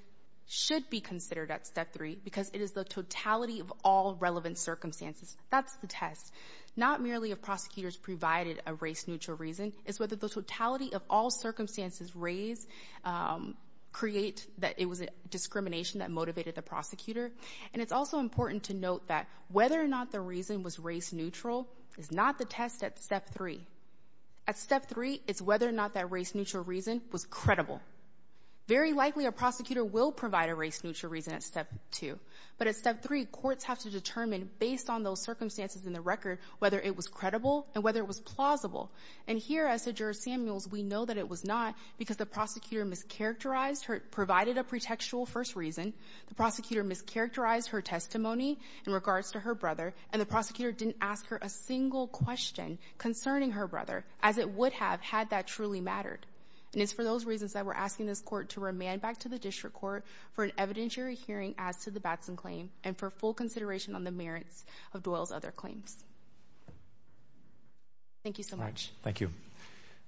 should be considered at Step 3 because it is the totality of all relevant circumstances. That's the test. Not merely if prosecutors provided a race-neutral reason, it's whether the totality of all circumstances raised create that it was a discrimination that motivated the prosecutor. And it's also important to note that whether or not the reason was race-neutral is not the test at Step 3. At Step 3, it's whether or not that race-neutral reason was credible. Very likely a prosecutor will provide a race-neutral reason at Step 2. But at Step 3, courts have to determine, based on those circumstances in the record, whether it was credible and whether it was plausible. And here, as to Juror Samuels, we know that it was not because the prosecutor mischaracterized her provided a pretextual first reason, the prosecutor mischaracterized her testimony in regards to her brother, and the prosecutor didn't ask her a single question concerning her brother as it would have had that truly mattered. And it's for those reasons that we're asking this court to remand back to the district court for an evidentiary hearing as to the Batson claim and for full consideration on the merits of Doyle's other claims. Thank you so much. Thank you.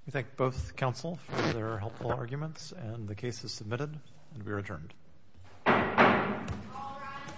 We thank both counsel for their helpful arguments, and the case is submitted, and we are adjourned. All rise.